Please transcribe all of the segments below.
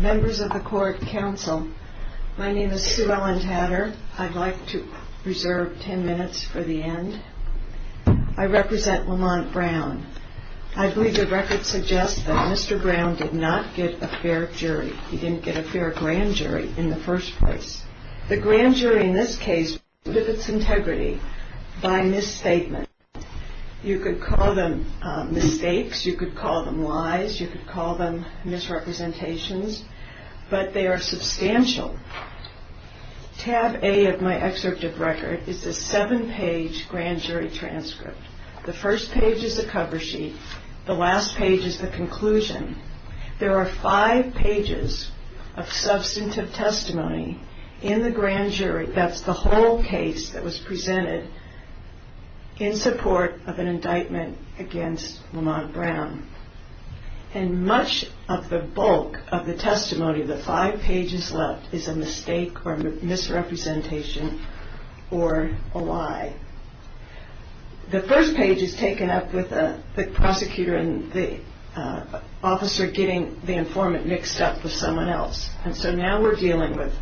Members of the Court Council, my name is Sue Ellen Tatter. I'd like to reserve 10 minutes for the end. I represent Lamont Brown. I believe the record suggests that Mr. Brown did not get a fair jury. He didn't get a fair grand jury in the first place. The grand jury in this case exhibits integrity by misstatement. You could call them mistakes. You could call them lies. You could call them misrepresentations. But they are substantial. Tab A of my excerpt of record is a seven-page grand jury transcript. The first page is a cover sheet. The last page is the conclusion. There are five pages of substantive testimony in the grand jury. That's the whole case that was presented in support of an indictment against Lamont Brown. And much of the bulk of the testimony, the five pages left, is a mistake or misrepresentation or a lie. The first page is taken up with the prosecutor and the officer getting the informant mixed up with someone else. And so now we're dealing with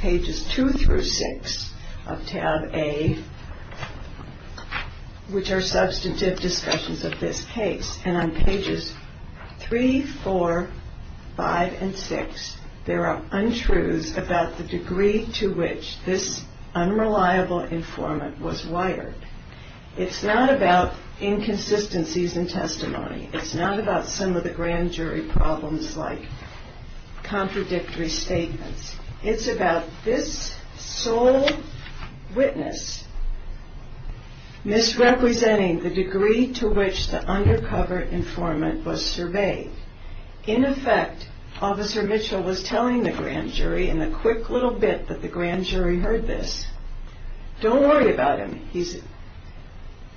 pages two through six of tab A, which are substantive discussions of this case. And on pages three, four, five, and six, there are untruths about the degree to which this unreliable informant was wired. It's not about inconsistencies in testimony. It's not about some of the grand jury problems like contradictory statements. It's about this sole witness misrepresenting the degree to which the undercover informant was surveyed. In effect, Officer Mitchell was telling the grand jury in the quick little bit that the grand jury heard this, don't worry about him, he's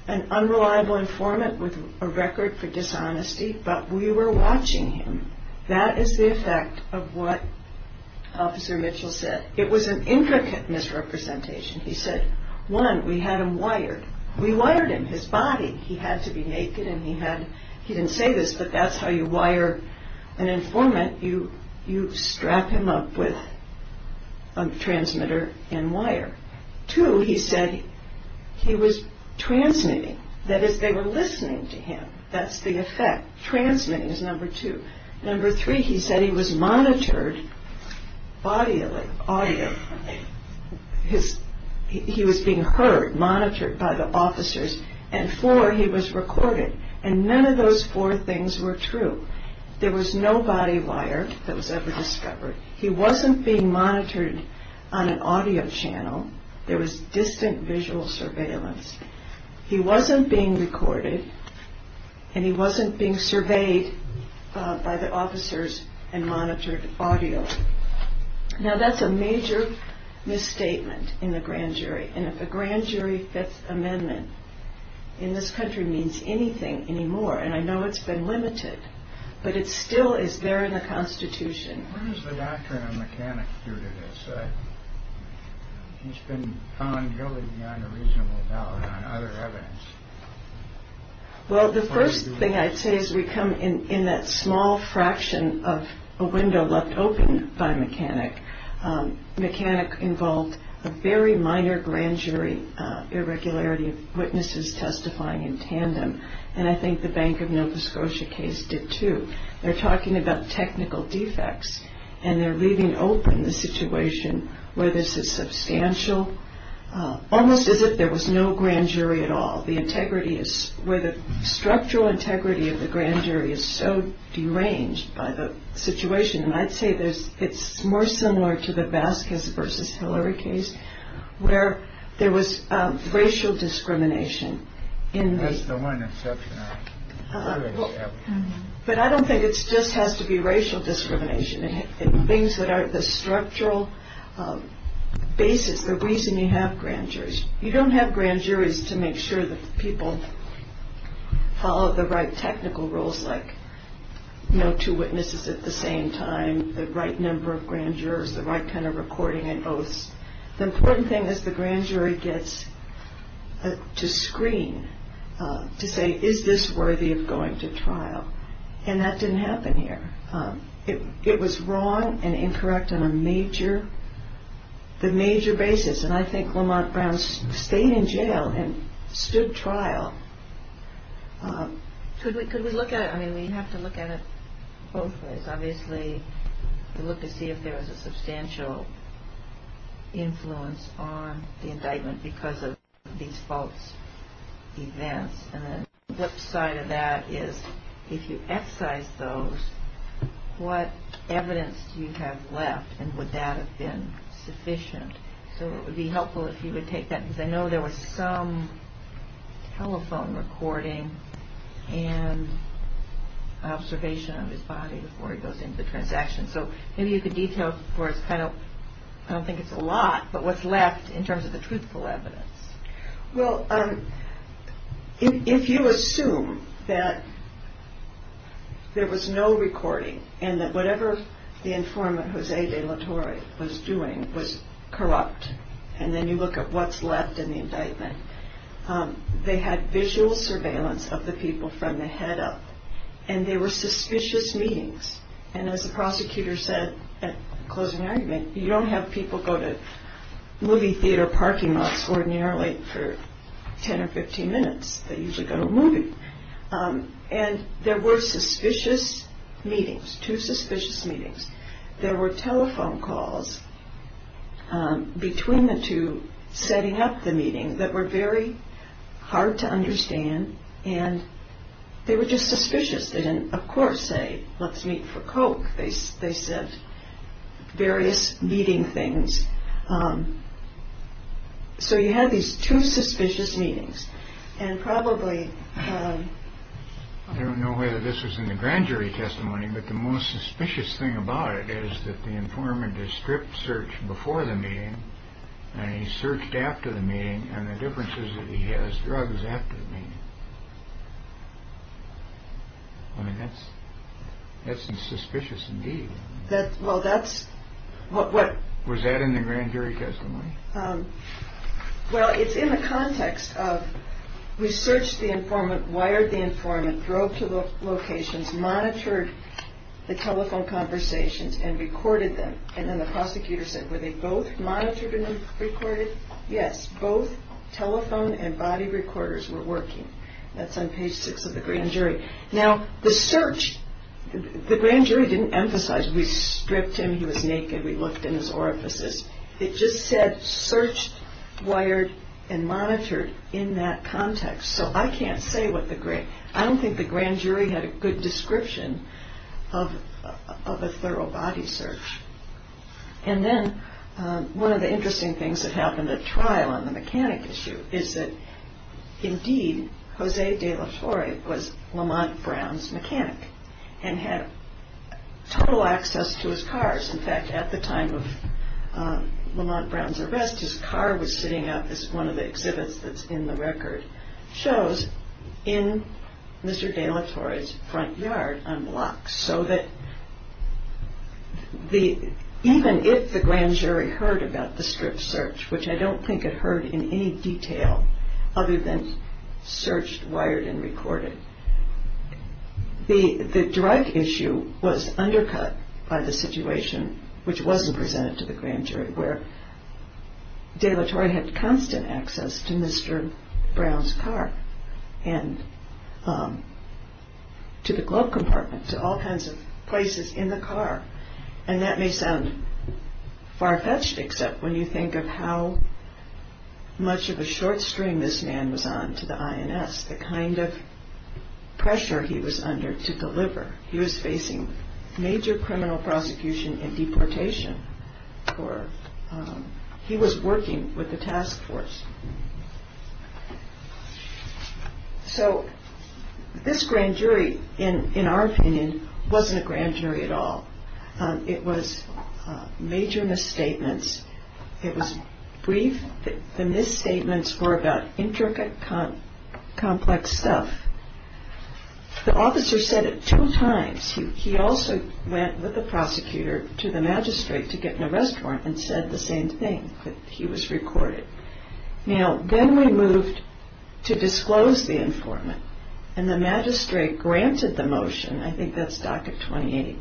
an unreliable informant with a record for dishonesty, but we were watching him. That is the effect of what Officer Mitchell said. It was an intricate misrepresentation. He said, one, we had him wired. We wired him, his body. He had to be naked and he didn't say this, but that's how you wire an informant. You strap him up with a transmitter and wire. Two, he said he was transmitting. That is, they were listening to him. That's the effect. Transmitting is number two. Number three, he said he was monitored audibly. He was being heard, monitored by the officers. And four, he was recorded. And none of those four things were true. There was no body wire that was ever discovered. He wasn't being monitored on an audio channel. There was distant visual surveillance. He wasn't being recorded and he wasn't being surveyed by the officers and monitored audibly. Now, that's a major misstatement in the grand jury. And if a grand jury Fifth Amendment in this country means anything anymore, and I know it's been limited, but it still is there in the Constitution. What does the doctrine of mechanic do to this? He's been found guilty beyond a reasonable doubt on other evidence. Well, the first thing I'd say is we come in that small fraction of a window left open by mechanic. Mechanic involved a very minor grand jury irregularity of witnesses testifying in tandem. And I think the Bank of Nova Scotia case did too. They're talking about technical defects and they're leaving open the situation where this is substantial, almost as if there was no grand jury at all. The integrity is where the structural integrity of the grand jury is so deranged by the situation. And I'd say there's it's more similar to the Vasquez versus Hillary case where there was racial discrimination in. That's the one exception. But I don't think it's just has to be racial discrimination. Things that are the structural basis, the reason you have grand jurors. You don't have grand juries to make sure that people follow the right technical rules, like no two witnesses at the same time, the right number of grand jurors, the right kind of recording and oaths. The important thing is the grand jury gets to screen to say, is this worthy of going to trial? And that didn't happen here. It was wrong and incorrect on a major, the major basis. And I think Lamont Brown stayed in jail and stood trial. Could we could we look at it? I mean, we have to look at it both ways. Obviously, we look to see if there is a substantial influence on the indictment because of these false events. And the flip side of that is if you excise those, what evidence do you have left? And would that have been sufficient? So it would be helpful if you would take that because I know there was some telephone recording and observation of his body before he goes into the transaction. So maybe you could detail for us. I don't think it's a lot, but what's left in terms of the truthful evidence? Well, if you assume that there was no recording and that whatever the informant, Jose De La Torre, was doing was corrupt, and then you look at what's left in the indictment, they had visual surveillance of the people from the head up and they were suspicious meetings. And as the prosecutor said at closing argument, you don't have people go to movie theater parking lots ordinarily for 10 or 15 minutes. They usually go to a movie. And there were suspicious meetings, two suspicious meetings. There were telephone calls between the two setting up the meeting that were very hard to understand. And they were just suspicious. They didn't, of course, say, let's meet for Coke. They said various meeting things. So you had these two suspicious meetings and probably. I don't know whether this was in the grand jury testimony, but the most suspicious thing about it is that the informant is stripped search before the meeting. And he searched after the meeting and the differences that he has drugs after the meeting. I mean, that's that's suspicious indeed. That's well, that's what was that in the grand jury testimony. Well, it's in the context of research. The informant wired the informant drove to the locations, monitored the telephone conversations and recorded them. And then the prosecutor said, were they both monitored and recorded? Yes. Both telephone and body recorders were working. That's on page six of the grand jury. Now, the search. The grand jury didn't emphasize we stripped him. He was naked. We looked in his orifices. It just said search, wired and monitored in that context. So I can't say what the great I don't think the grand jury had a good description of of a thorough body search. And then one of the interesting things that happened at trial on the mechanic issue is that indeed, Jose de la Torre was Lamont Brown's mechanic and had total access to his cars. In fact, at the time of Lamont Brown's arrest, his car was sitting out as one of the exhibits that's in the record shows in Mr. de la Torre's front yard on blocks. So that the even if the grand jury heard about the strip search, which I don't think it heard in any detail other than searched, wired and recorded. The drug issue was undercut by the situation which wasn't presented to the grand jury, where de la Torre had constant access to Mr. Brown's car and to the glove compartment, to all kinds of places in the car. And that may sound far fetched, except when you think of how much of a short string this man was on to the INS, the kind of pressure he was under to deliver. He was facing major criminal prosecution and deportation for he was working with the task force. So this grand jury, in our opinion, wasn't a grand jury at all. It was major misstatements. It was brief. The misstatements were about intricate, complex stuff. The officer said it two times. He also went with the prosecutor to the magistrate to get in a restaurant and said the same thing. He was recorded. Now, then we moved to disclose the informant. And the magistrate granted the motion. I think that's Doctrine 28.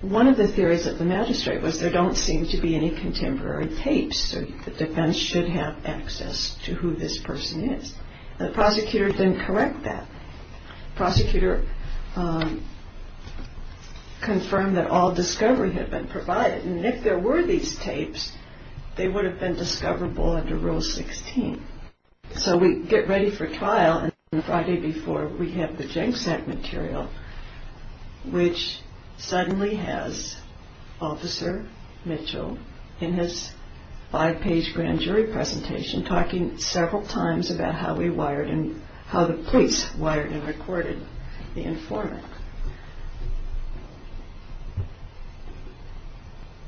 One of the theories of the magistrate was there don't seem to be any contemporary tapes, so the defense should have access to who this person is. The prosecutor didn't correct that. The prosecutor confirmed that all discovery had been provided. And if there were these tapes, they would have been discoverable under Rule 16. So we get ready for trial. And the Friday before, we have the jank sack material, which suddenly has Officer Mitchell in his five-page grand jury presentation talking several times about how the police wired and recorded the informant.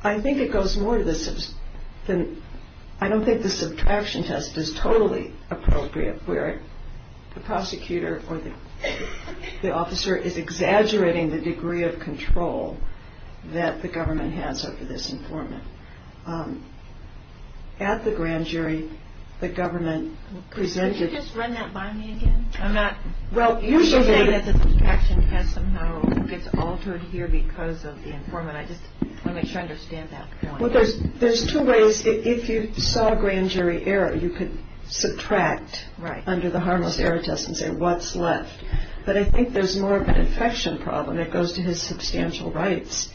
I think it goes more to the... I don't think the subtraction test is totally appropriate where the prosecutor or the officer is exaggerating the degree of control that the government has over this informant. At the grand jury, the government presented... Could you just run that by me again? I'm not... Well, usually... The subtraction test somehow gets altered here because of the informant. I just want to make sure I understand that. Well, there's two ways. If you saw a grand jury error, you could subtract under the harmless error test and say what's left. But I think there's more of an affection problem that goes to his substantial rights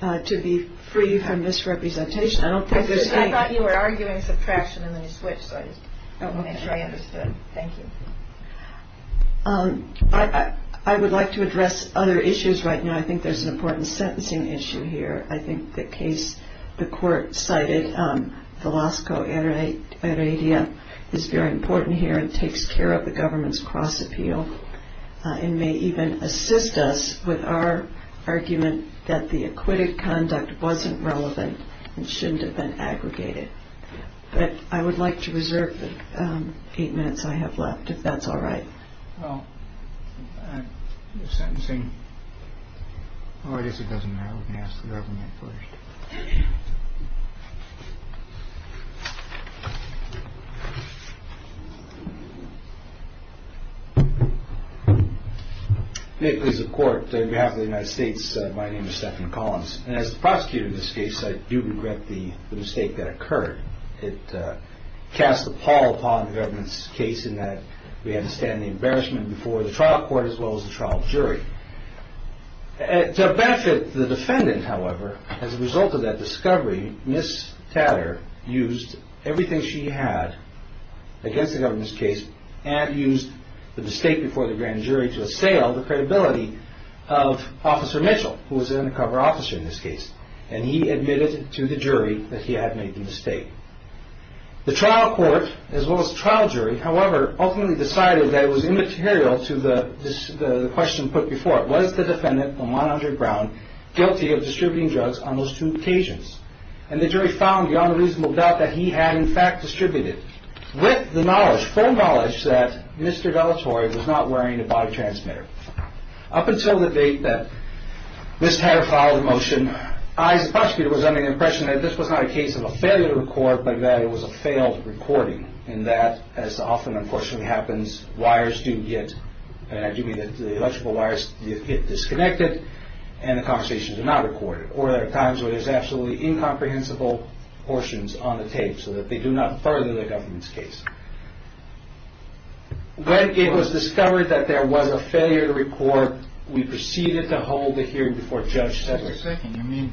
to be free from misrepresentation. I don't think there's any... I thought you were arguing subtraction and then you switched, so I just wanted to make sure I understood. Thank you. I would like to address other issues right now. I think there's an important sentencing issue here. I think the case the court cited, Velasco Heredia, is very important here and takes care of the government's cross-appeal and may even assist us with our argument that the acquitted conduct wasn't relevant and shouldn't have been aggregated. But I would like to reserve the eight minutes I have left, if that's all right. Well, the sentencing... Oh, I guess it doesn't matter. We can ask the government first. This is the court. On behalf of the United States, my name is Stephan Collins. As the prosecutor of this case, I do regret the mistake that occurred. It cast a pall upon the government's case in that we understand the embarrassment before the trial court as well as the trial jury. To benefit the defendant, however, as a result of that discovery, Ms. Tatter used everything she had against the government's case and used the mistake before the grand jury to assail the credibility of Officer Mitchell, who was an undercover officer in this case, and he admitted to the jury that he had made the mistake. The trial court as well as the trial jury, however, ultimately decided that it was immaterial to the question put before it. Was the defendant, Lamont Andrew Brown, guilty of distributing drugs on those two occasions? And the jury found beyond a reasonable doubt that he had in fact distributed with the knowledge, full knowledge, that Mr. Dellatore was not wearing a body transmitter. Up until the date that Ms. Tatter filed the motion, I as a prosecutor was under the impression that this was not a case of a failure to record, but that it was a failed recording in that, as often unfortunately happens, wires do get, I do mean the electrical wires, get disconnected and the conversations are not recorded. Or there are times where there's absolutely incomprehensible portions on the tape so that they do not further the government's case. When it was discovered that there was a failure to record, we proceeded to hold the hearing before Judge Sessions. Wait a second, you mean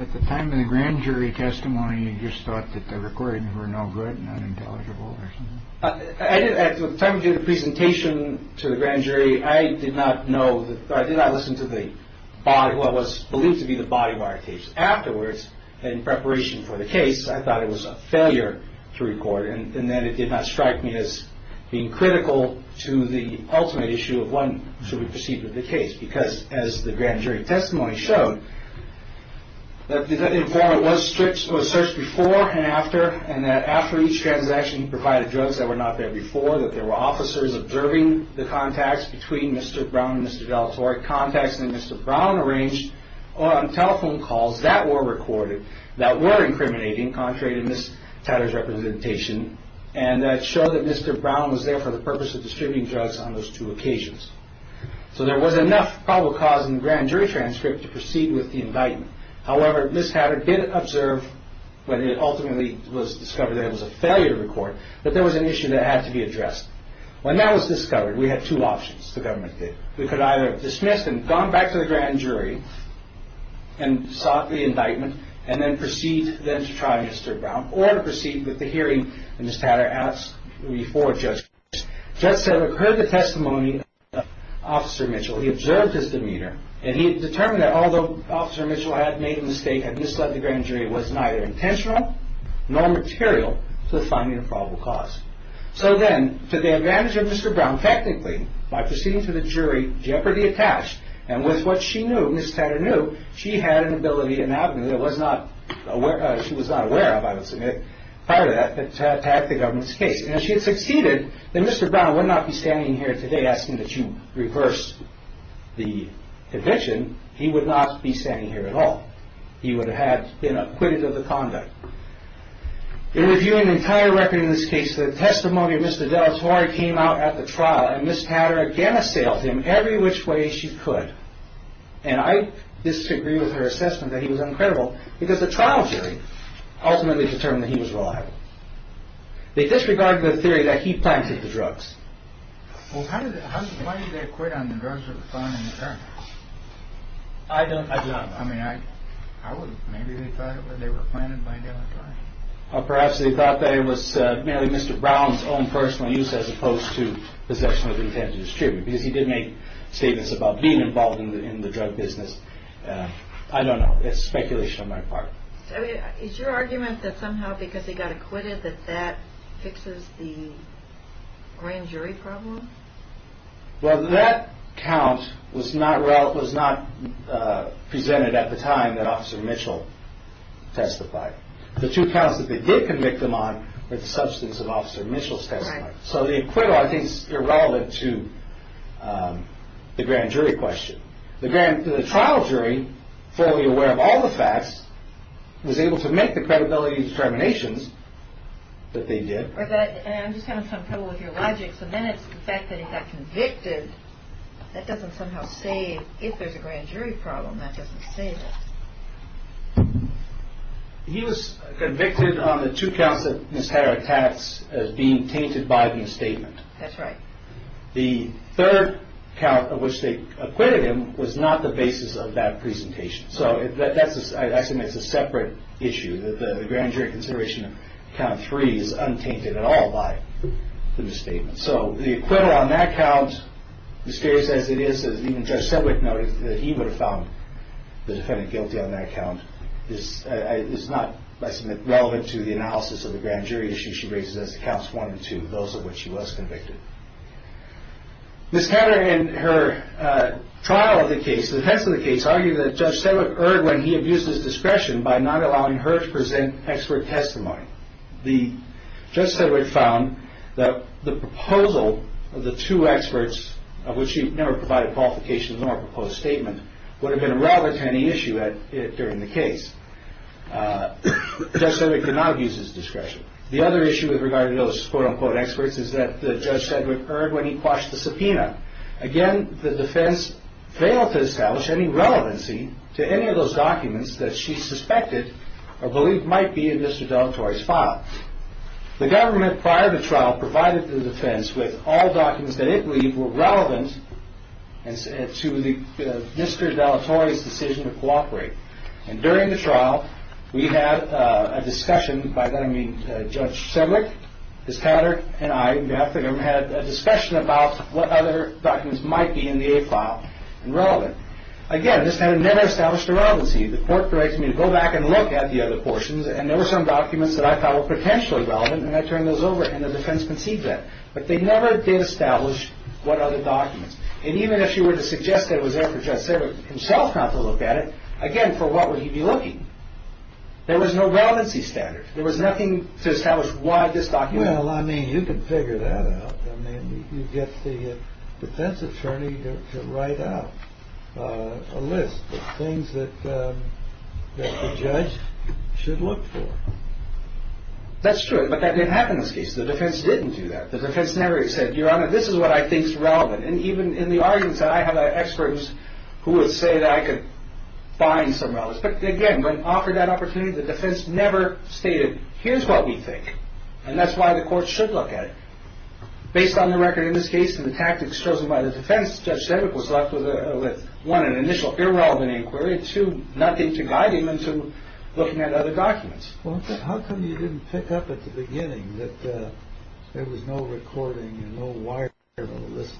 at the time of the grand jury testimony, you just thought that the recordings were no good and unintelligible or something? At the time we did the presentation to the grand jury, I did not know, I did not listen to the body, what was believed to be the body wire tapes. Afterwards, in preparation for the case, I thought it was a failure to record and that it did not strike me as being critical to the ultimate issue of when should we proceed with the case. Because, as the grand jury testimony showed, that the informant was searched before and after, and that after each transaction he provided drugs that were not there before, that there were officers observing the contacts between Mr. Brown and Ms. Tatter, contacts that Mr. Brown arranged on telephone calls that were recorded, that were incriminating, contrary to Ms. Tatter's representation, and that showed that Mr. Brown was there for the purpose of distributing drugs on those two occasions. So there was enough probable cause in the grand jury transcript to proceed with the indictment. However, Ms. Tatter did observe when it ultimately was discovered that it was a failure to record, that there was an issue that had to be addressed. When that was discovered, we had two options, the government did. We could either dismiss and have gone back to the grand jury and sought the indictment, and then proceed then to try Mr. Brown, or to proceed with the hearing that Ms. Tatter asked before Judge Grisham. Judge Selig heard the testimony of Officer Mitchell. He observed his demeanor, and he determined that although Officer Mitchell had made a mistake, had misled the grand jury, it was neither intentional nor material to the finding of probable cause. So then, to the advantage of Mr. Brown, technically, by proceeding to the jury, jeopardy attached, and with what she knew, Ms. Tatter knew, she had an ability and avenue that she was not aware of, I would submit, prior to that, to attack the government's case. And if she had succeeded, then Mr. Brown would not be standing here today asking that you reverse the conviction. He would not be standing here at all. He would have been acquitted of the conduct. In reviewing the entire record in this case, the testimony of Mr. Dellatorre came out at the trial, and Ms. Tatter again assailed him every which way she could. And I disagree with her assessment that he was uncredible, because the trial jury ultimately determined that he was reliable. They disregarded the theory that he planted the drugs. Well, how did they, why did they acquit on the drugs that were found in the car? I don't, I don't, I mean, I, I wouldn't, maybe they thought they were planted by Dellatorre. Or perhaps they thought that it was merely Mr. Brown's own personal use, as opposed to possession of the intent to distribute, because he did make statements about being involved in the drug business. I don't know. It's speculation on my part. Is your argument that somehow, because he got acquitted, that that fixes the grand jury problem? Well, that count was not presented at the time that Officer Mitchell testified. The two counts that they did convict him on were the substance of Officer Mitchell's testimony. Right. So the acquittal, I think, is irrelevant to the grand jury question. The grand, the trial jury, fully aware of all the facts, was able to make the credibility determinations that they did. Or that, and I'm just having some trouble with your logic, so then it's the fact that he got convicted, that doesn't somehow say if there's a grand jury problem, that doesn't say that. He was convicted on the two counts that Ms. Hatter attacks as being tainted by the misstatement. That's right. The third count, which they acquitted him, was not the basis of that presentation. So I think that's a separate issue, that the grand jury consideration of count three is untainted at all by the misstatement. So the acquittal on that count, mysterious as it is, even Judge Sedwick noted that he would have found the defendant guilty on that count, is not, I submit, relevant to the analysis of the grand jury issue she raises as counts one and two, those of which she was convicted. Ms. Hatter, in her trial of the case, defense of the case, argued that Judge Sedwick erred when he abused his discretion by not allowing her to present expert testimony. Judge Sedwick found that the proposal of the two experts, of which she never provided qualifications nor proposed statement, would have been a rather tiny issue during the case. Judge Sedwick did not abuse his discretion. The other issue with regard to those quote-unquote experts is that Judge Sedwick erred when he quashed the subpoena. Again, the defense failed to establish any relevancy to any of those documents that she suspected or believed might be in Mr. Dellatore's file. The government, prior to the trial, provided the defense with all documents that it believed were relevant to Mr. Dellatore's decision to cooperate. And during the trial, we had a discussion, by that I mean Judge Sedwick, Ms. Hatter, and I, on behalf of the government, had a discussion about what other documents might be in the aid file and relevant. Again, this never established a relevancy. The court directed me to go back and look at the other portions, and there were some documents that I thought were potentially relevant, and I turned those over, and the defense conceived that. But they never did establish what other documents. And even if she were to suggest that it was there for Judge Sedwick himself not to look at it, again, for what would he be looking? There was no relevancy standard. There was nothing to establish why this document was there. Well, I mean, you can figure that out. I mean, you get the defense attorney to write out a list of things that the judge should look for. That's true, but that didn't happen in this case. The defense didn't do that. The defense never said, Your Honor, this is what I think is relevant. And even in the arguments, I have experts who would say that I could find some relevance. But again, when offered that opportunity, the defense never stated, here's what we think, and that's why the court should look at it. Based on the record in this case and the tactics chosen by the defense, Judge Sedwick was left with, one, an initial irrelevant inquiry, and, two, nothing to guide him into looking at other documents. Well, how come you didn't pick up at the beginning that there was no recording and no wiring of the list?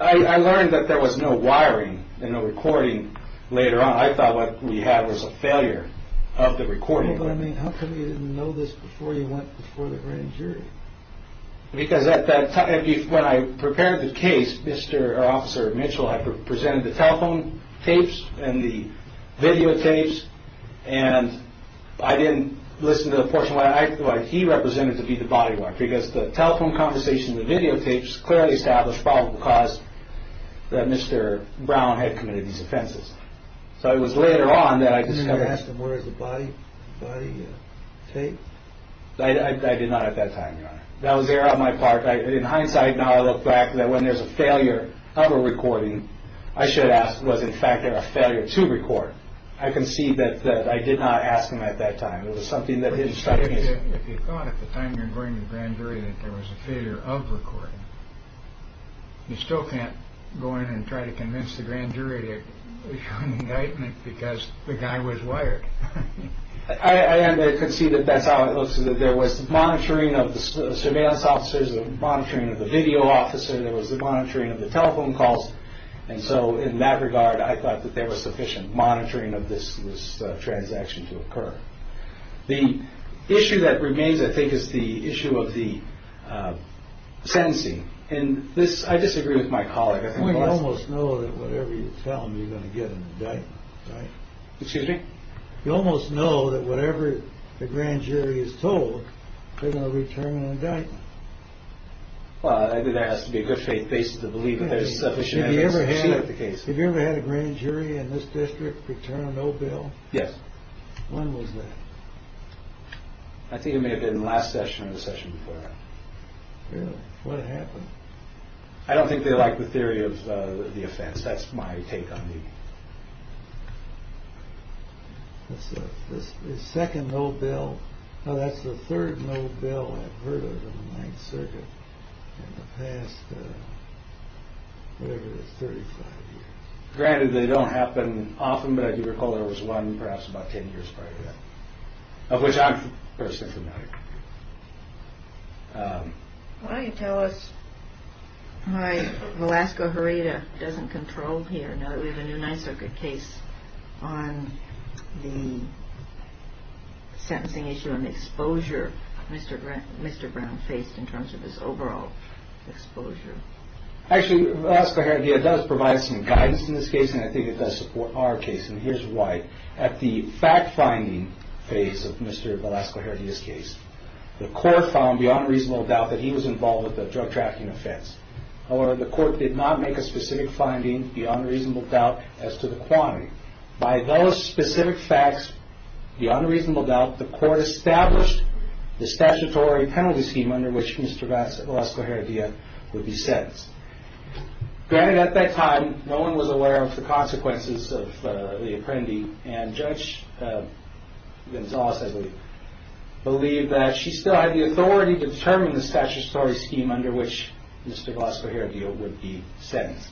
I learned that there was no wiring and no recording later on. I thought what we had was a failure of the recording. But I mean, how come you didn't know this before you went before the grand jury? Because at that time, when I prepared the case, Mr. Officer Mitchell, I presented the telephone tapes and the videotapes, and I didn't listen to the portion of what he represented to be the body work, because the telephone conversation and the videotapes clearly established the probable cause that Mr. Brown had committed these offenses. So it was later on that I discovered... You didn't ask him, where is the body tape? I did not at that time, Your Honor. That was there on my part. In hindsight, now I look back that when there's a failure of a recording, I should ask, was, in fact, there a failure to record? I concede that I did not ask him at that time. It was something that his instructions... If you thought at the time you were going to the grand jury that there was a failure of recording, you still can't go in and try to convince the grand jury to issue an indictment because the guy was wired. I concede that that's how it looks, that there was monitoring of the surveillance officers, there was monitoring of the video officer, there was the monitoring of the telephone calls, and so in that regard, I thought that there was sufficient monitoring of this transaction to occur. The issue that remains, I think, is the issue of the sentencing. I disagree with my colleague. You almost know that whatever you tell them, you're going to get an indictment, right? Excuse me? You almost know that whatever the grand jury is told, they're going to return an indictment. Well, I think there has to be a good faith basis to believe that there's sufficient evidence to proceed with the case. Have you ever had a grand jury in this district return a no bill? Yes. When was that? I think it may have been the last session or the session before that. Really? What happened? I don't think they like the theory of the offense. That's my take on it. That's the second no bill. No, that's the third no bill I've heard of in the Ninth Circuit in the past, whatever, 35 years. Granted, they don't happen often, but I do recall there was one perhaps about 10 years prior to that, of which I'm personally familiar. Why don't you tell us why Velasco Herrera doesn't control here, now that we have a new Ninth Circuit case, on the sentencing issue and the exposure Mr. Brown faced in terms of his overall exposure? Actually, Velasco Herrera does provide some guidance in this case, and I think it does support our case. And here's why. At the fact-finding phase of Mr. Velasco Herrera's case, the court found beyond reasonable doubt that he was involved with a drug trafficking offense. However, the court did not make a specific finding beyond reasonable doubt as to the quantity. By those specific facts, beyond reasonable doubt, the court established the statutory penalty scheme under which Mr. Velasco Herrera would be sentenced. Granted, at that time, no one was aware of the consequences of the Apprendi, and Judge Gonzales, I believe, believed that she still had the authority to determine the statutory scheme under which Mr. Velasco Herrera would be sentenced.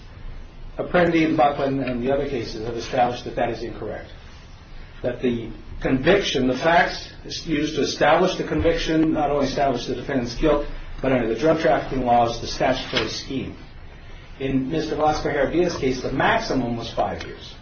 Apprendi and Buckland and the other cases have established that that is incorrect, that the conviction, the facts used to establish the conviction not only establish the defendant's guilt, but under the drug trafficking laws, the statutory scheme. In Mr. Velasco Herrera's case, the maximum was five years.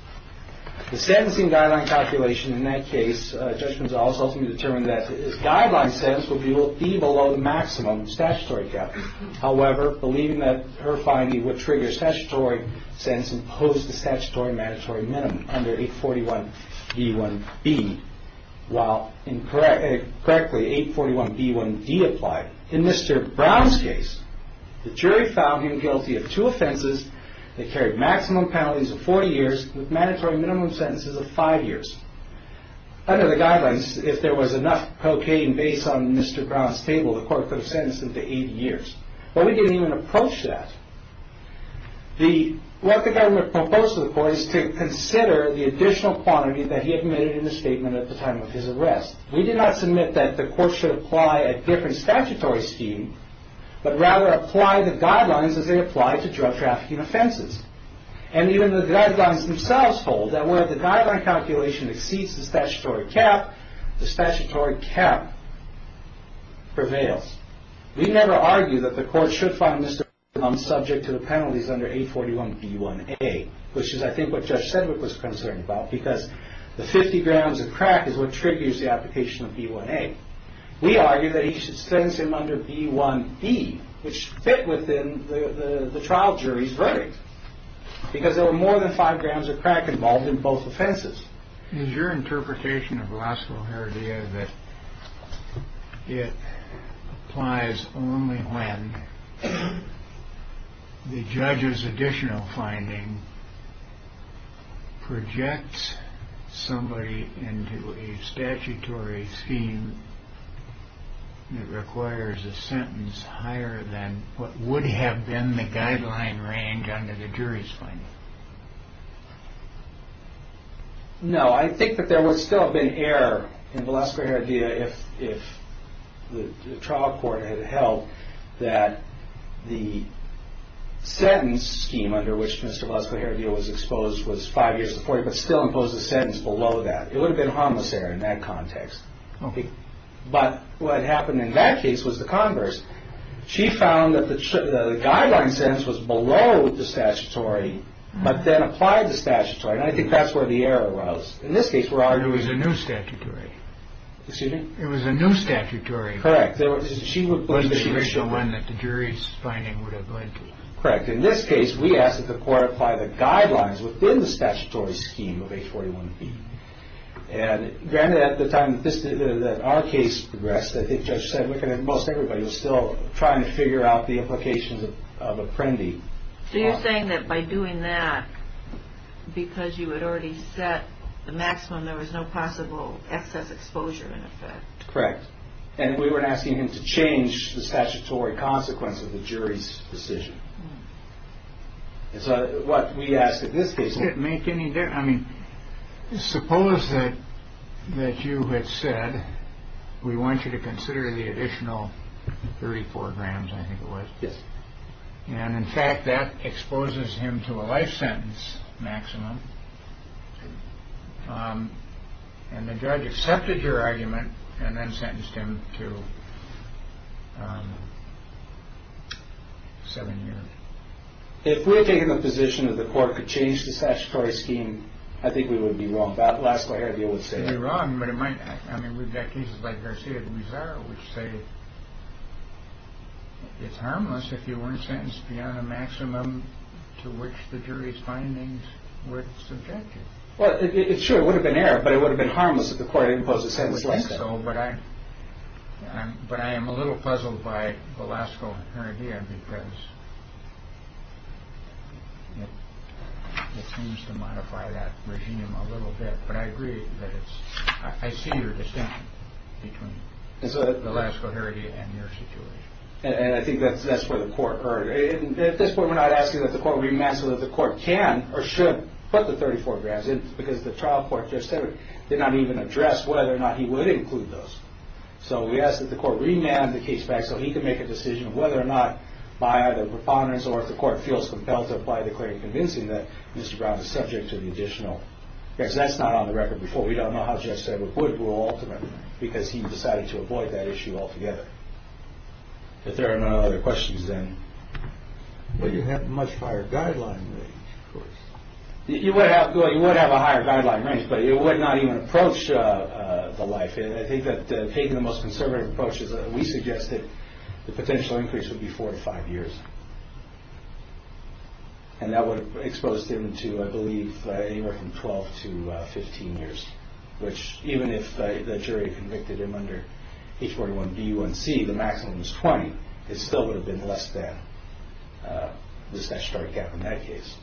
The sentencing guideline calculation in that case, Judge Gonzales ultimately determined that his guideline sentence would be below the maximum statutory gap. However, believing that her finding would trigger statutory sentence imposed the statutory mandatory minimum under 841b1b, while incorrectly 841b1d applied. In Mr. Brown's case, the jury found him guilty of two offenses that carried maximum penalties of 40 years with mandatory minimum sentences of five years. Under the guidelines, if there was enough cocaine based on Mr. Brown's table, the court could have sentenced him to 80 years. But we didn't even approach that. The, what the government proposed to the court is to consider the additional quantity that he admitted in the statement at the time of his arrest. We did not submit that the court should apply a different statutory scheme, but rather apply the guidelines as they apply to drug trafficking offenses. And even the guidelines themselves hold that where the guideline calculation exceeds the statutory cap, the statutory cap prevails. We never argue that the court should find Mr. Brown subject to the penalties under 841b1a, which is I think what Judge Sedgwick was concerned about, because the 50 grams of crack is what triggers the application of b1a. We argue that he should sentence him under b1b, which fit within the trial jury's verdict, because there were more than five grams of crack involved in both offenses. Is your interpretation of law school here that it applies only when the judge's additional finding projects somebody into a statutory scheme that requires a sentence higher than what would have been the guideline range under the jury's finding? No, I think that there would still have been error in Valeska Heredia if the trial court had held that the sentence scheme under which Mr. Valeska Heredia was exposed was five years to 40, but still imposed a sentence below that. It would have been a harmless error in that context. But what happened in that case was the converse. She found that the guideline sentence was below the statutory, but then applied the statutory, and I think that's where the error was. In this case, we're arguing... It was a new statutory. Excuse me? It was a new statutory. Correct. She would believe that it was... But she was the one that the jury's finding would have led to. Correct. In this case, we asked that the court apply the guidelines within the statutory scheme of 841b. And granted, at the time that our case progressed, I think Judge said, most everybody was still trying to figure out the implications of Apprendi. So you're saying that by doing that, because you had already set the maximum, there was no possible excess exposure in effect? Correct. And we were asking him to change the statutory consequence of the jury's decision. And so what we asked in this case... I mean, suppose that you had said, we want you to consider the additional 34 grams, I think it was. Yes. And in fact, that exposes him to a life sentence maximum. And the judge accepted your argument and then sentenced him to seven years. If we had taken the position that the court could change the statutory scheme, I think we would be wrong. But Velasco Heredia would say... It would be wrong, but it might... I mean, we've got cases like Garcia de Mizar, which say it's harmless if you weren't sentenced beyond the maximum to which the jury's findings would subject you. Well, sure, it would have been error, but it would have been harmless if the court imposed a sentence like that. It would be so, but I am a little puzzled by Velasco Heredia because it seems to modify that regime a little bit, but I agree that it's... I see your distinction between Velasco Heredia and your situation. And I think that's where the court... At this point, we're not asking that the court remand so that the court can or should put the 34 grams in because the trial court just said it. It did not even address whether or not he would include those. So we ask that the court remand the case back so he can make a decision of whether or not, by either preponderance or if the court feels compelled to apply the claim convincing that Mr. Brown is subject to the additional. Because that's not on the record before. We don't know how Jeff said it would rule ultimately because he decided to avoid that issue altogether. If there are no other questions, then... But you have a much higher guideline range, of course. You would have a higher guideline range, but it would not even approach the life. I think that taking the most conservative approach is that we suggest that the potential increase would be 4 to 5 years. And that would expose him to, I believe, anywhere from 12 to 15 years. Which, even if the jury convicted him under H41B1C, the maximum is 20. It still would have been less than the statutory gap in that case.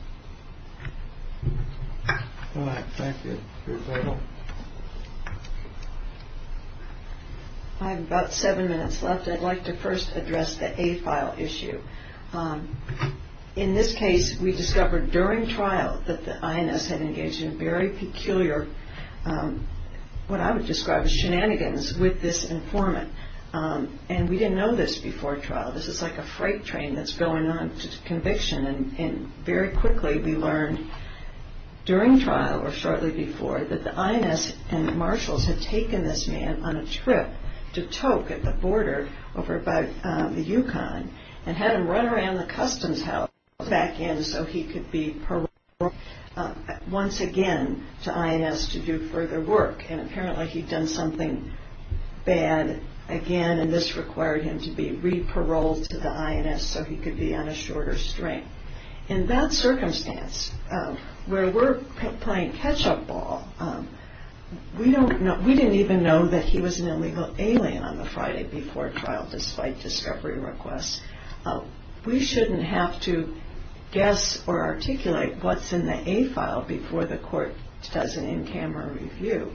All right. Thank you. Ruth Edelman. I have about seven minutes left. I'd like to first address the A file issue. In this case, we discovered during trial that the INS had engaged in very peculiar, what I would describe as shenanigans, with this informant. And we didn't know this before trial. This is like a freight train that's going on to conviction. And very quickly we learned, during trial or shortly before, that the INS and marshals had taken this man on a trip to Tok, at the border, over by the Yukon, and had him run around the customs house, back in so he could be paroled once again to INS to do further work. And apparently he'd done something bad again, and this required him to be re-paroled to the INS so he could be on a shorter string. In that circumstance, where we're playing catch-up ball, we didn't even know that he was an illegal alien on the Friday before trial, despite discovery requests. We shouldn't have to guess or articulate what's in the A file before the court does an in-camera review.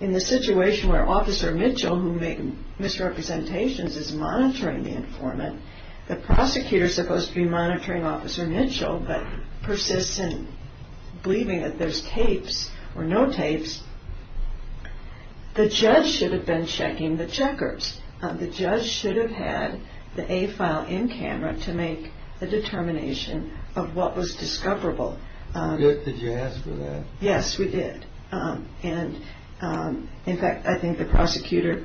In the situation where Officer Mitchell, who made misrepresentations, is monitoring the informant, the prosecutor is supposed to be monitoring Officer Mitchell, but persists in believing that there's tapes or no tapes, the judge should have been checking the checkers. The judge should have had the A file in-camera to make a determination of what was discoverable. Did you ask for that? Yes, we did. The prosecutor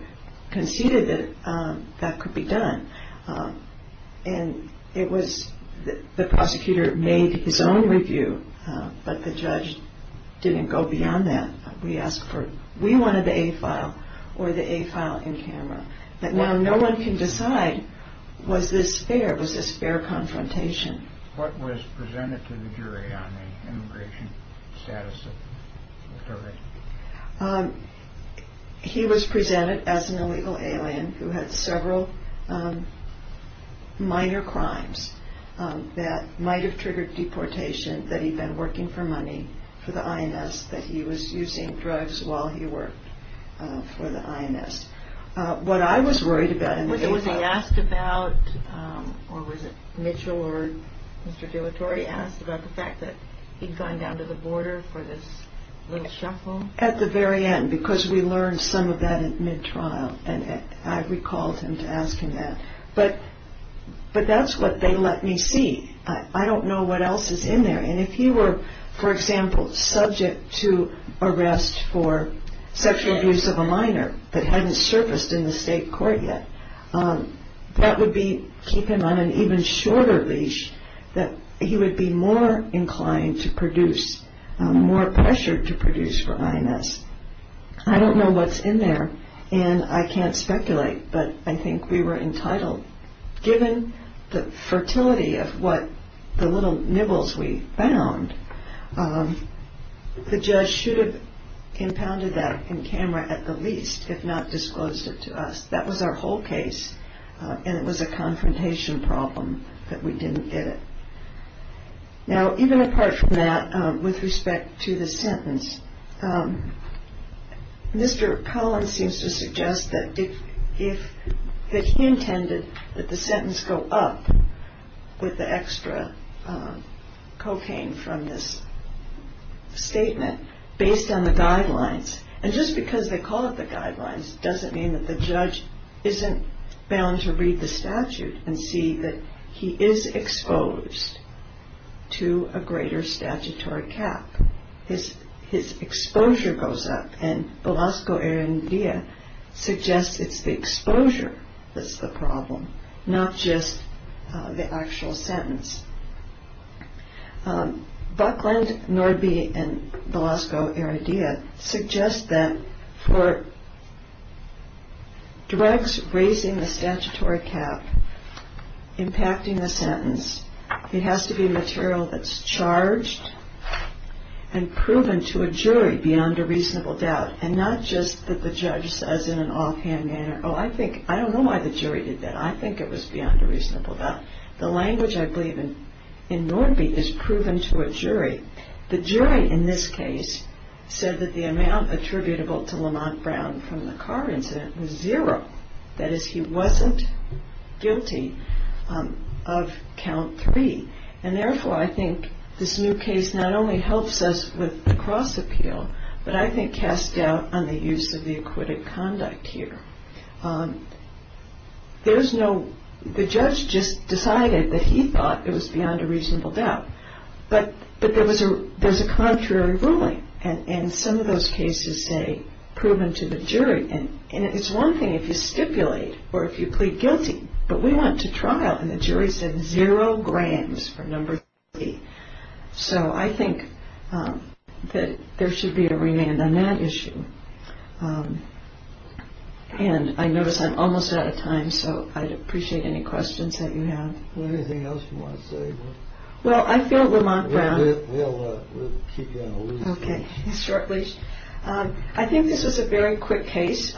made his own review, but the judge didn't go beyond that. We wanted the A file or the A file in-camera. Now no one can decide, was this fair? Was this fair confrontation? What was presented to the jury on the immigration status of the pervert? He was presented as an illegal alien who had several minor crimes that might have triggered deportation, that he'd been working for money for the I.M.S., that he was using drugs while he worked for the I.M.S. What I was worried about in the A file... Was he asked about, or was it Mitchell or Mr. Dillatory asked about the fact that he'd gone down to the border for this little shuffle? At the very end, because we learned some of that at mid-trial, and I recalled him to ask him that. But that's what they let me see. I don't know what else is in there. And if he were, for example, subject to arrest for sexual abuse of a minor that hadn't surfaced in the state court yet, that would keep him on an even shorter leash that he would be more inclined to produce, more pressured to produce for I.M.S. I don't know what's in there, and I can't speculate, but I think we were entitled. Given the fertility of what the little nibbles we found, the judge should have impounded that in camera at the least, if not disclosed it to us. That was our whole case, and it was a confrontation problem that we didn't get it. Now, even apart from that, with respect to the sentence, Mr. Collins seems to suggest that he intended that the sentence go up with the extra cocaine from this statement based on the guidelines. And just because they call it the guidelines doesn't mean that the judge isn't bound to read the statute and see that he is exposed to a greater statutory cap. His exposure goes up, and Velasco Heredia suggests it's the exposure that's the problem, not just the actual sentence. Buckland, Norby, and Velasco Heredia suggest that for drugs raising the statutory cap, impacting the sentence, it has to be material that's charged and proven to a jury beyond a reasonable doubt, and not just that the judge says in an offhand manner, oh, I don't know why the jury did that. I think it was beyond a reasonable doubt. The language, I believe, in Norby is proven to a jury. The jury in this case said that the amount attributable to Lamont Brown from the car incident was zero. That is, he wasn't guilty of count three, and therefore I think this new case not only helps us with the cross appeal, but I think casts doubt on the use of the acquitted conduct here. The judge just decided that he thought it was beyond a reasonable doubt, but there's a contrary ruling, and some of those cases say proven to the jury, and it's one thing if you stipulate or if you plead guilty, but we want to trial, and the jury said zero grams for number three. So I think that there should be a remand on that issue, and I notice I'm almost out of time, so I'd appreciate any questions that you have. Anything else you want to say? Well, I feel Lamont Brown... We'll keep you on a leash. Okay, short leash. I think this was a very quick case.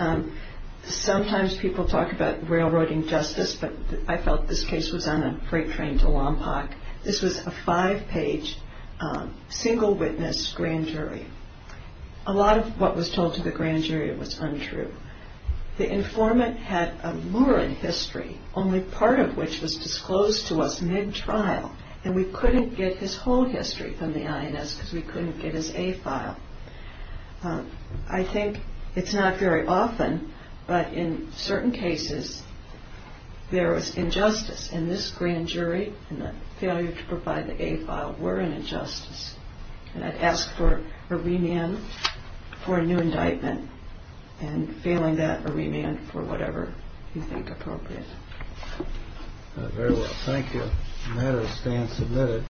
Sometimes people talk about railroading justice, but I felt this case was on a freight train to Lompoc. This was a five-page single witness grand jury. A lot of what was told to the grand jury was untrue. The informant had a lurid history, only part of which was disclosed to us mid-trial, and we couldn't get his whole history from the INS because we couldn't get his A file. I think it's not very often, but in certain cases there was injustice, and this grand jury and the failure to provide the A file were an injustice, and I'd ask for a remand for a new indictment, and failing that, a remand for whatever you think appropriate. Very well. Thank you. The matter stands submitted.